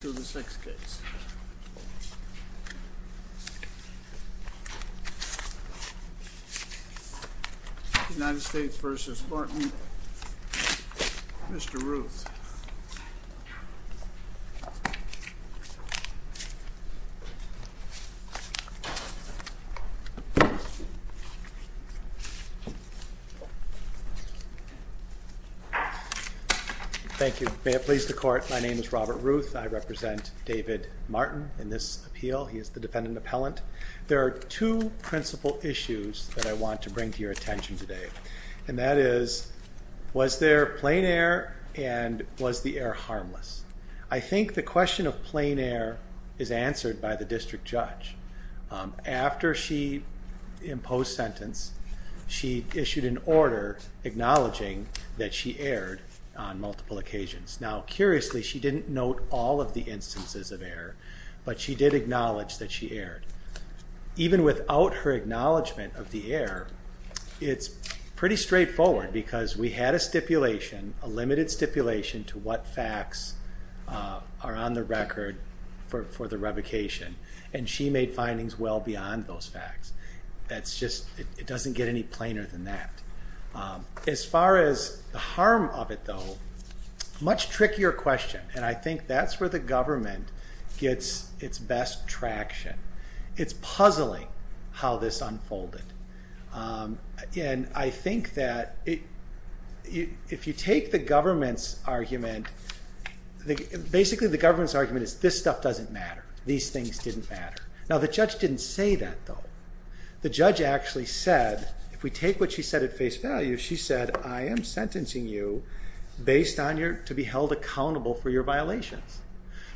to the sixth case. United States v. Martin. Mr Ruth. Thank you. May it please the court. My name is Robert Ruth. I represent David Martin in this appeal. He is the defendant appellant. There are two principal issues that I want to bring to your attention today. And that is, was there plain air and was the air harmless? I think the question of plain air is answered by the district judge. After she imposed sentence, she issued an order acknowledging that she aired on multiple occasions. Now, curiously, she didn't note all of the instances of air, but she did acknowledge that she aired. Even without her acknowledgement of the air, it's pretty straightforward because we had a stipulation, a limited stipulation, to what facts are on the record for the revocation. And she made findings well beyond those facts. That's just, it doesn't get any plainer than that. As far as the harm of it, though, much trickier question. And I think that's where the government gets its best traction. It's puzzling how this unfolded. And I think that if you take the government's argument, basically the government's argument is this stuff doesn't matter. These things didn't matter. Now, the judge didn't say that, though. The judge actually said, if we take what she said at face value, she said, I am sentencing you to be held accountable for your violations.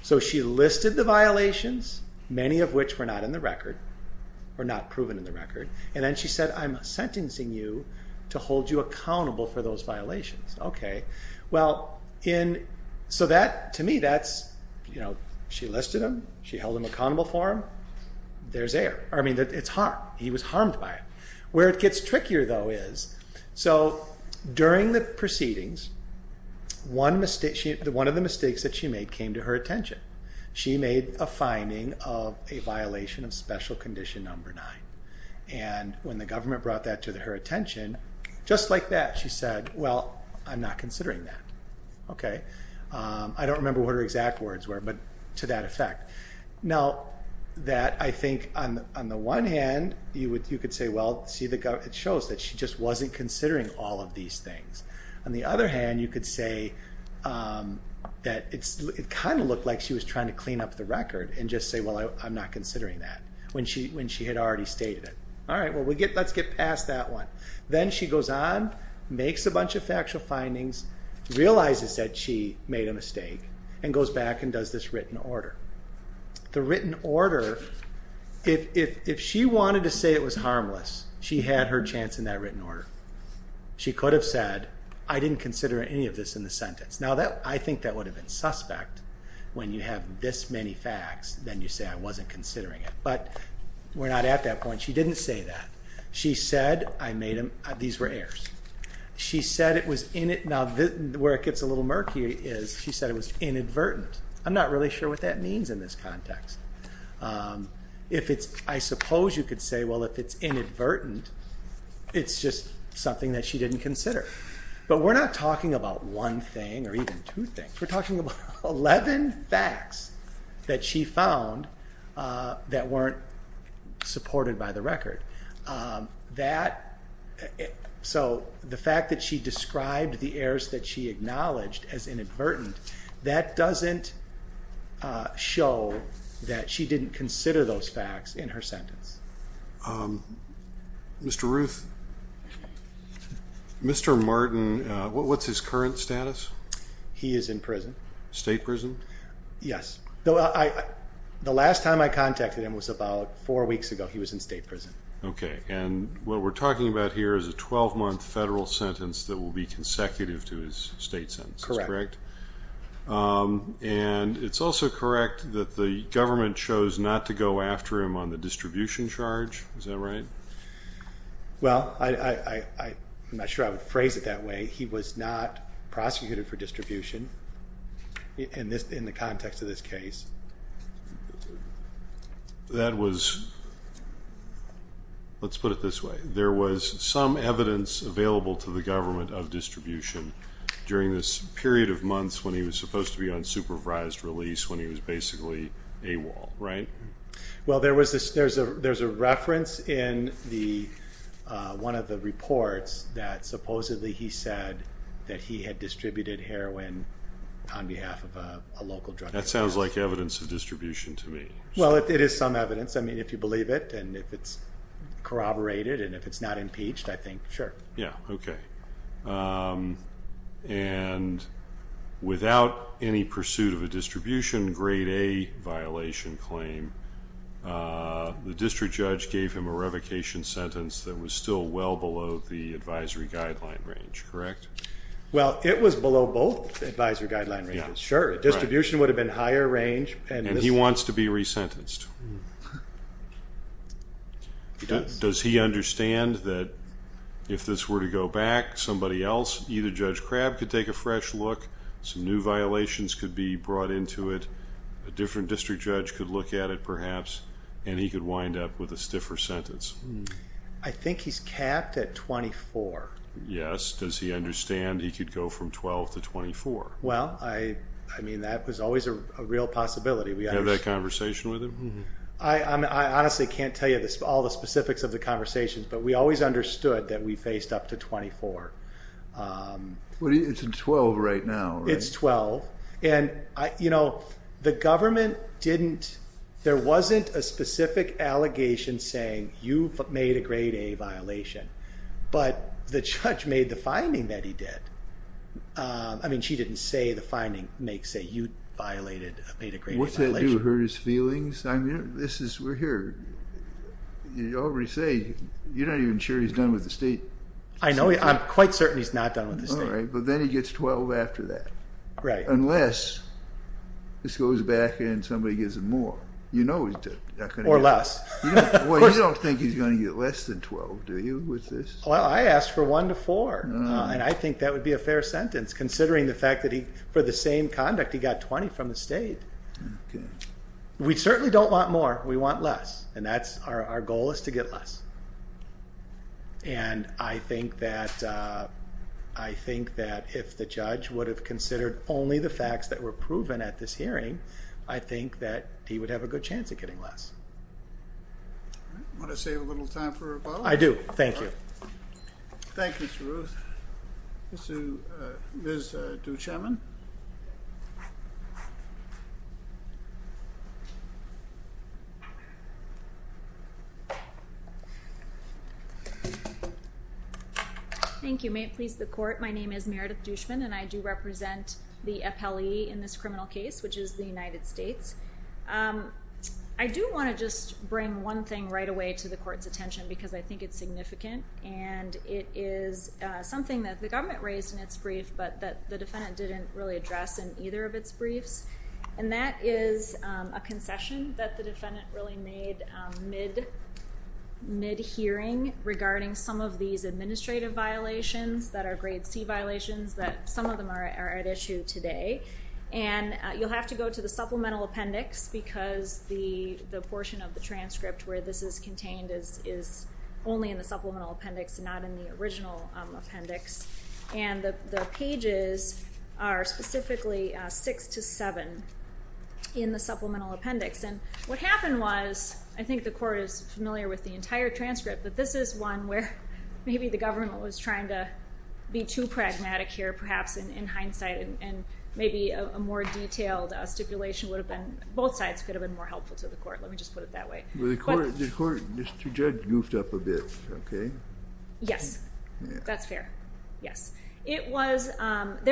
So she listed the violations, many of which were not in the record, or not proven in the record. And then she said, I'm sentencing you to hold you accountable for those violations. OK. So that, to me, that's, you know, she listed them. She held them accountable for them. There's air. I mean, it's harm. He was harmed by it. Where it gets trickier, though, is during the proceedings, one mistake, one of the mistakes that she made came to her attention. She made a finding of a violation of special condition number nine. And when the government brought that to her attention, just like that, she said, well, I'm not considering that. OK. I don't remember what her exact words were, but to that effect. Now, that, I think, on the one hand, you could say, well, see, it shows that she just wasn't considering all of these things. On the other hand, you could say that it kind of looked like she was trying to clean up the record and just say, well, I'm not considering that, when she had already stated it. All right, well, let's get past that one. Then she goes on, makes a bunch of factual findings, realizes that she made a mistake, and goes back and does this written order. The written order, if she wanted to say it was harmless, she had her chance in that written order. She could have said, I didn't consider any of this in the sentence. Now, I think that would have been suspect. When you have this many facts, then you say I wasn't considering it. But we're not at that point. She didn't say that. She said, I made them, these were errors. She said it was, now, where it gets a little murky is she said it was inadvertent. I'm not really sure what that means in this context. I suppose you could say, well, if it's inadvertent, it's just something that she didn't consider. But we're not talking about one thing or even two things. We're talking about 11 facts that she found that weren't supported by the record. So the fact that she described the errors that she acknowledged as inadvertent, that doesn't show that she didn't consider those facts in her sentence. Mr. Ruth, Mr. Martin, what's his current status? He is in prison. State prison? Yes. The last time I contacted him was about four weeks ago. He was in state prison. OK, and what we're talking about here is a 12-month federal sentence that will be consecutive to his state sentence, correct? And it's also correct that the government chose not to go after him on the distribution charge. Is that right? Well, I'm not sure I would phrase it that way. He was not prosecuted for distribution in the context of this case. Let's put it this way. There was some evidence available to the government of distribution during this period of months when he was supposed to be on supervised release when he was basically AWOL, right? Well, there's a reference in one of the reports that supposedly he said that he had distributed heroin on behalf of a local drug dealer. That sounds like evidence of distribution to me. Well, it is some evidence. I mean, if you believe it, and if it's corroborated, and if it's not impeached, I think, sure. Yeah, OK. And without any pursuit of a distribution, grade A violation claim, the district judge gave him a revocation sentence that was still well below the advisory guideline range, correct? Well, it was below both advisory guideline ranges, sure. Distribution would have been higher range. And he wants to be resentenced. Does he understand that if this were to go back, somebody else, either Judge Crabb could take a fresh look, some new violations could be brought into it, a different district judge could look at it, perhaps, and he could wind up with a stiffer sentence? I think he's capped at 24. Yes. Does he understand he could go from 12 to 24? Well, I mean, that was always a real possibility. We had that conversation with him? I honestly can't tell you all the specifics of the conversations, but we always understood that we faced up to 24. Well, it's 12 right now, right? It's 12. And the government didn't, there wasn't a specific allegation saying you made a grade A violation. But the judge made the finding that he did. I mean, she didn't say the finding makes that you violated, made a grade A violation. What's that do to hurt his feelings? I mean, this is, we're here. You already say, you're not even sure he's done with the state. I know, I'm quite certain he's not done with the state. All right, but then he gets 12 after that. Right. Unless this goes back and somebody gives him more. You know he's not going to get more. Or less. Well, you don't think he's going to get less than 12, do you, with this? Well, I asked for one to four, and I think that would be a fair sentence, considering the fact that he, for the same conduct, he got 20 from the state. We certainly don't want more, we want less. And that's, our goal is to get less. And I think that, I think that if the judge would have considered only the facts that were proven at this hearing, I think that he would have a good chance of getting less. All right, want to save a little time for rebuttal? I do, thank you. Thank you, Mr. Ruth. Miss, Ms. Duchemin. Thank you. May it please the court, my name is Meredith Duchemin, and I do represent the appellee in this criminal case, which is the United States. I do want to just bring one thing right away to the court's attention, because I think it's significant. And it is something that the government raised in its brief, but that the defendant didn't really address in either of its briefs. And that is a concession that the defendant really made mid-hearing regarding some of these administrative violations that are grade C violations, that some of them are at issue today. And you'll have to go to the supplemental appendix, because the portion of the transcript where this is contained is only in the supplemental appendix, not in the original appendix. And the pages are specifically six to seven in the supplemental appendix. And what happened was, I think the court is familiar with the entire transcript, but this is one where maybe the government was trying to be too pragmatic here, perhaps in hindsight, and maybe a more detailed stipulation would have been, both sides could have been more helpful to the court. Let me just put it that way. The court, Mr. Judge, goofed up a bit, OK? Yes. That's fair. Yes. There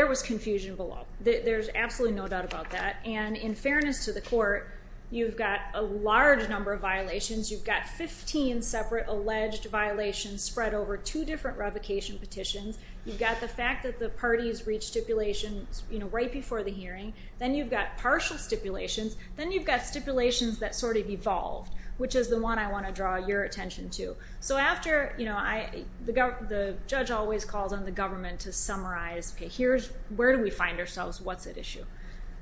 was confusion below. There's absolutely no doubt about that. And in fairness to the court, you've got a large number of violations. You've got 15 separate alleged violations spread over two different revocation petitions. You've got the fact that the parties reached stipulations right before the hearing. Then you've got partial stipulations. Then you've got stipulations that sort of evolved, which is the one I want to draw your attention to. So after, the judge always calls on the government to summarize, OK, where do we find ourselves? What's at issue?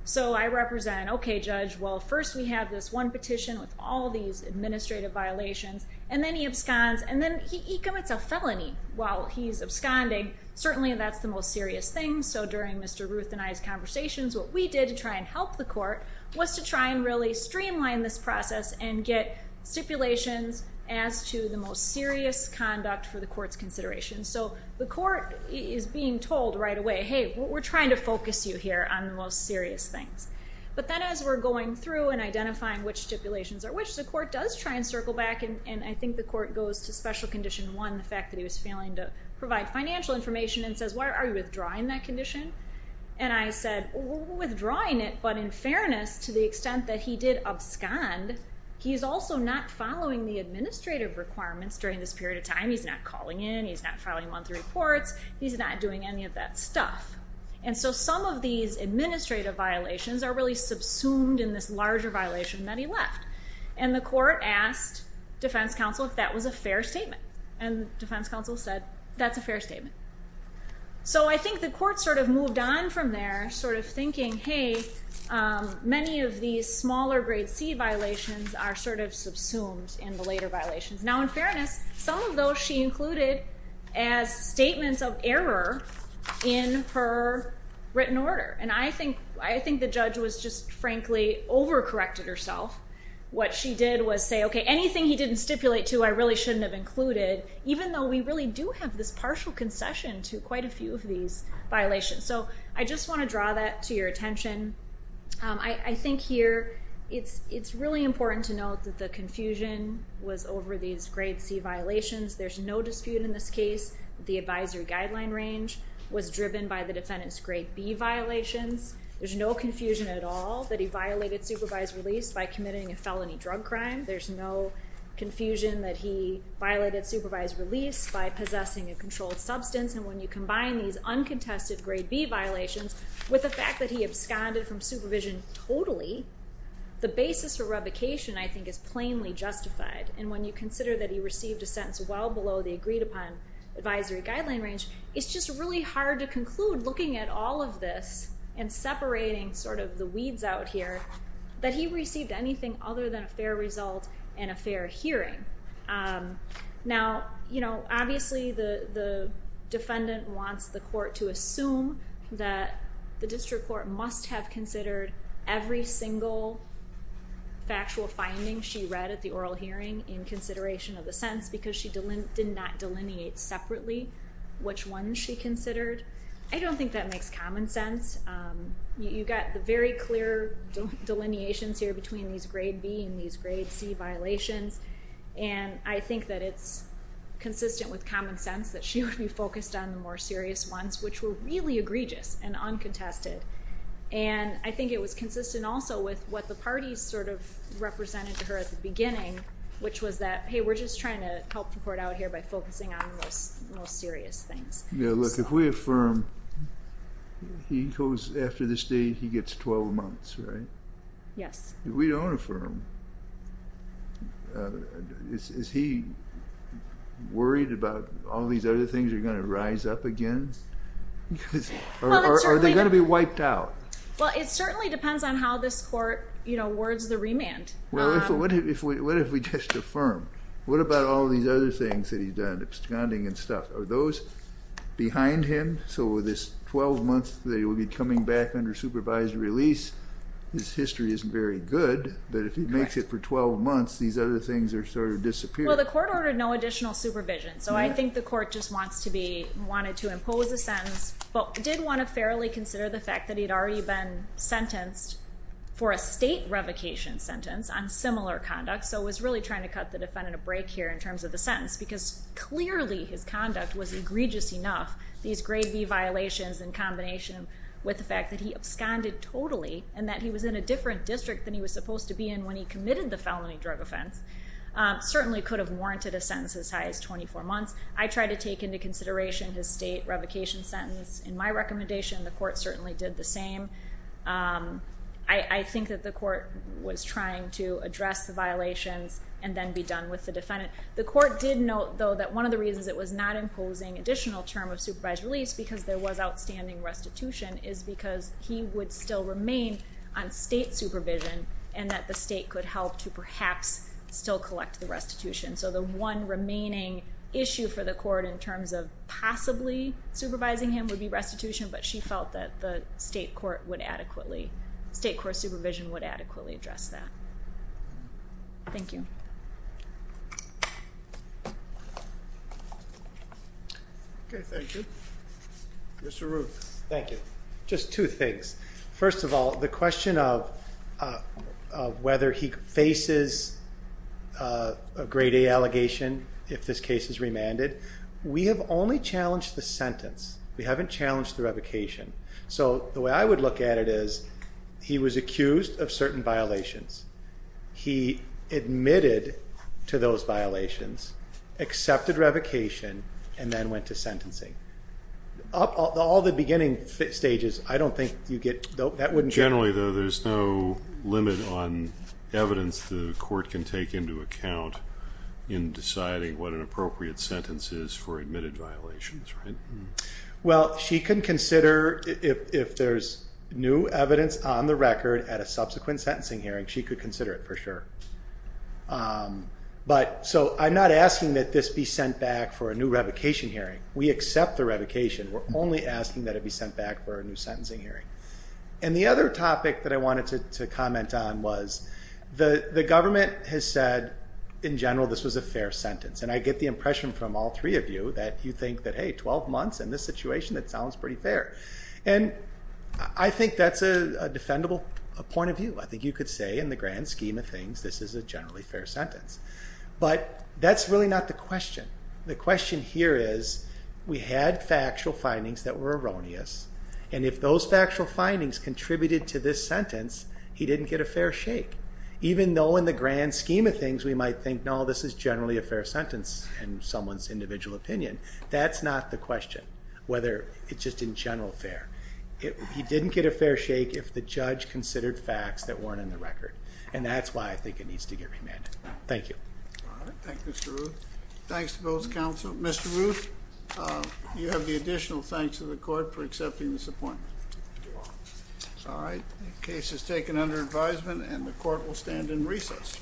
So I represent, OK, Judge, well, first we have this one petition with all these administrative violations. And then he absconds. And then he commits a felony while he's absconding. Certainly, that's the most serious thing. So during Mr. Ruth and I's conversations, what we did to try and help the court was to try and really streamline this process and get stipulations as to the most serious conduct for the court's consideration. So the court is being told right away, hey, we're trying to focus you here on the most serious things. But then as we're going through and identifying which stipulations are which, the court does try and circle back. And I think the court goes to special condition one, the fact that he was failing to provide financial information and says, why are you withdrawing that condition? And I said, we're withdrawing it. But in fairness, to the extent that he did abscond, he's also not following the administrative requirements during this period of time. He's not calling in. He's not filing monthly reports. He's not doing any of that stuff. And so some of these administrative violations are really subsumed in this larger violation that he left. And the court asked defense counsel if that was a fair statement. And defense counsel said, that's a fair statement. So I think the court sort of moved on from there, sort of thinking, hey, many of these smaller grade C violations are sort of subsumed in the later violations. Now in fairness, some of those she included as statements of error in her written order. And I think the judge was just, frankly, overcorrected herself. What she did was say, OK, anything he didn't stipulate to I really shouldn't have included, even though we really do have this partial concession to quite a few of these violations. So I just want to draw that to your attention. I think here it's really important to note that the confusion was over these grade C violations. There's no dispute in this case. The advisory guideline range was driven by the defendant's grade B violations. There's no confusion at all that he violated supervised release by committing a felony drug crime. There's no confusion that he violated supervised release by possessing a controlled substance. And when you combine these uncontested grade B violations with the fact that he absconded from supervision totally, the basis for revocation, I think, is plainly justified. And when you consider that he received a sentence well below the agreed upon advisory guideline range, it's just really hard to conclude looking at all of this and separating sort of the weeds out here, that he received anything other than a fair result and a fair hearing. Now, obviously the defendant wants the court to assume that the district court must have considered every single factual finding she read at the oral hearing in consideration of the sentence because she did not delineate separately which ones she considered. I don't think that makes common sense. You got the very clear delineations here between these grade B and these grade C violations. And I think that it's consistent with common sense that she would be focused on the more serious ones, which were really egregious and uncontested. And I think it was consistent also with what the parties sort of represented to her at the beginning, which was that, hey, we're just trying to help the court out here by focusing on the most serious things. Yeah, look, if we affirm he goes after this date, he gets 12 months, right? Yes. If we don't affirm, is he worried about all these other things are gonna rise up again? Or are they gonna be wiped out? Well, it certainly depends on how this court words the remand. Well, what if we just affirm? What about all these other things that he's done, absconding and stuff? Are those behind him? So with this 12 months, they will be coming back under supervised release. His history isn't very good, but if he makes it for 12 months, these other things are sort of disappearing. Well, the court ordered no additional supervision. So I think the court just wants to be, did wanna fairly consider the fact that he'd already been sentenced for a state revocation sentence on similar conduct. So it was really trying to cut the defendant a break here in terms of the sentence because clearly his conduct was egregious enough. These grade B violations in combination with the fact that he absconded totally and that he was in a different district than he was supposed to be in when he committed the felony drug offense certainly could have warranted a sentence as high as 24 months. I tried to take into consideration his state revocation sentence in my recommendation. The court certainly did the same. I think that the court was trying to address the violations and then be done with the defendant. The court did note though that one of the reasons it was not imposing additional term of supervised release because there was outstanding restitution is because he would still remain on state supervision and that the state could help to perhaps still collect the restitution. So the one remaining issue for the court in terms of possibly supervising him would be restitution but she felt that the state court would adequately, state court supervision would adequately address that. Thank you. Okay, thank you. Mr. Ruth. Thank you. Just two things. First of all, the question of whether he faces a grade A allegation if this case is remanded we have only challenged the sentence. We haven't challenged the revocation. So the way I would look at it is he was accused of certain violations. He admitted to those violations, accepted revocation and then went to sentencing. All the beginning stages I don't think you get, that wouldn't get. Generally though there's no limit on evidence the court can take into account in deciding what an appropriate sentence is for admitted violations, right? Well, she can consider if there's new evidence on the record at a subsequent sentencing hearing she could consider it for sure. But so I'm not asking that this be sent back for a new revocation hearing. We accept the revocation. We're only asking that it be sent back for a new sentencing hearing. And the other topic that I wanted to comment on was the government has said in general, this was a fair sentence. And I get the impression from all three of you that you think that, hey, 12 months in this situation that sounds pretty fair. And I think that's a defendable point of view. I think you could say in the grand scheme of things this is a generally fair sentence. But that's really not the question. The question here is we had factual findings that were erroneous. And if those factual findings contributed to this sentence he didn't get a fair shake. Even though in the grand scheme of things we might think, no, this is generally a fair sentence in someone's individual opinion. That's not the question. Whether it's just in general fair. He didn't get a fair shake if the judge considered facts that weren't in the record. And that's why I think it needs to get remanded. Thank you. All right, thank you, Mr. Ruth. Thanks to both counsel. Mr. Ruth, you have the additional thanks to the court for accepting this appointment. All right, the case is taken under advisement and the court will stand in recess.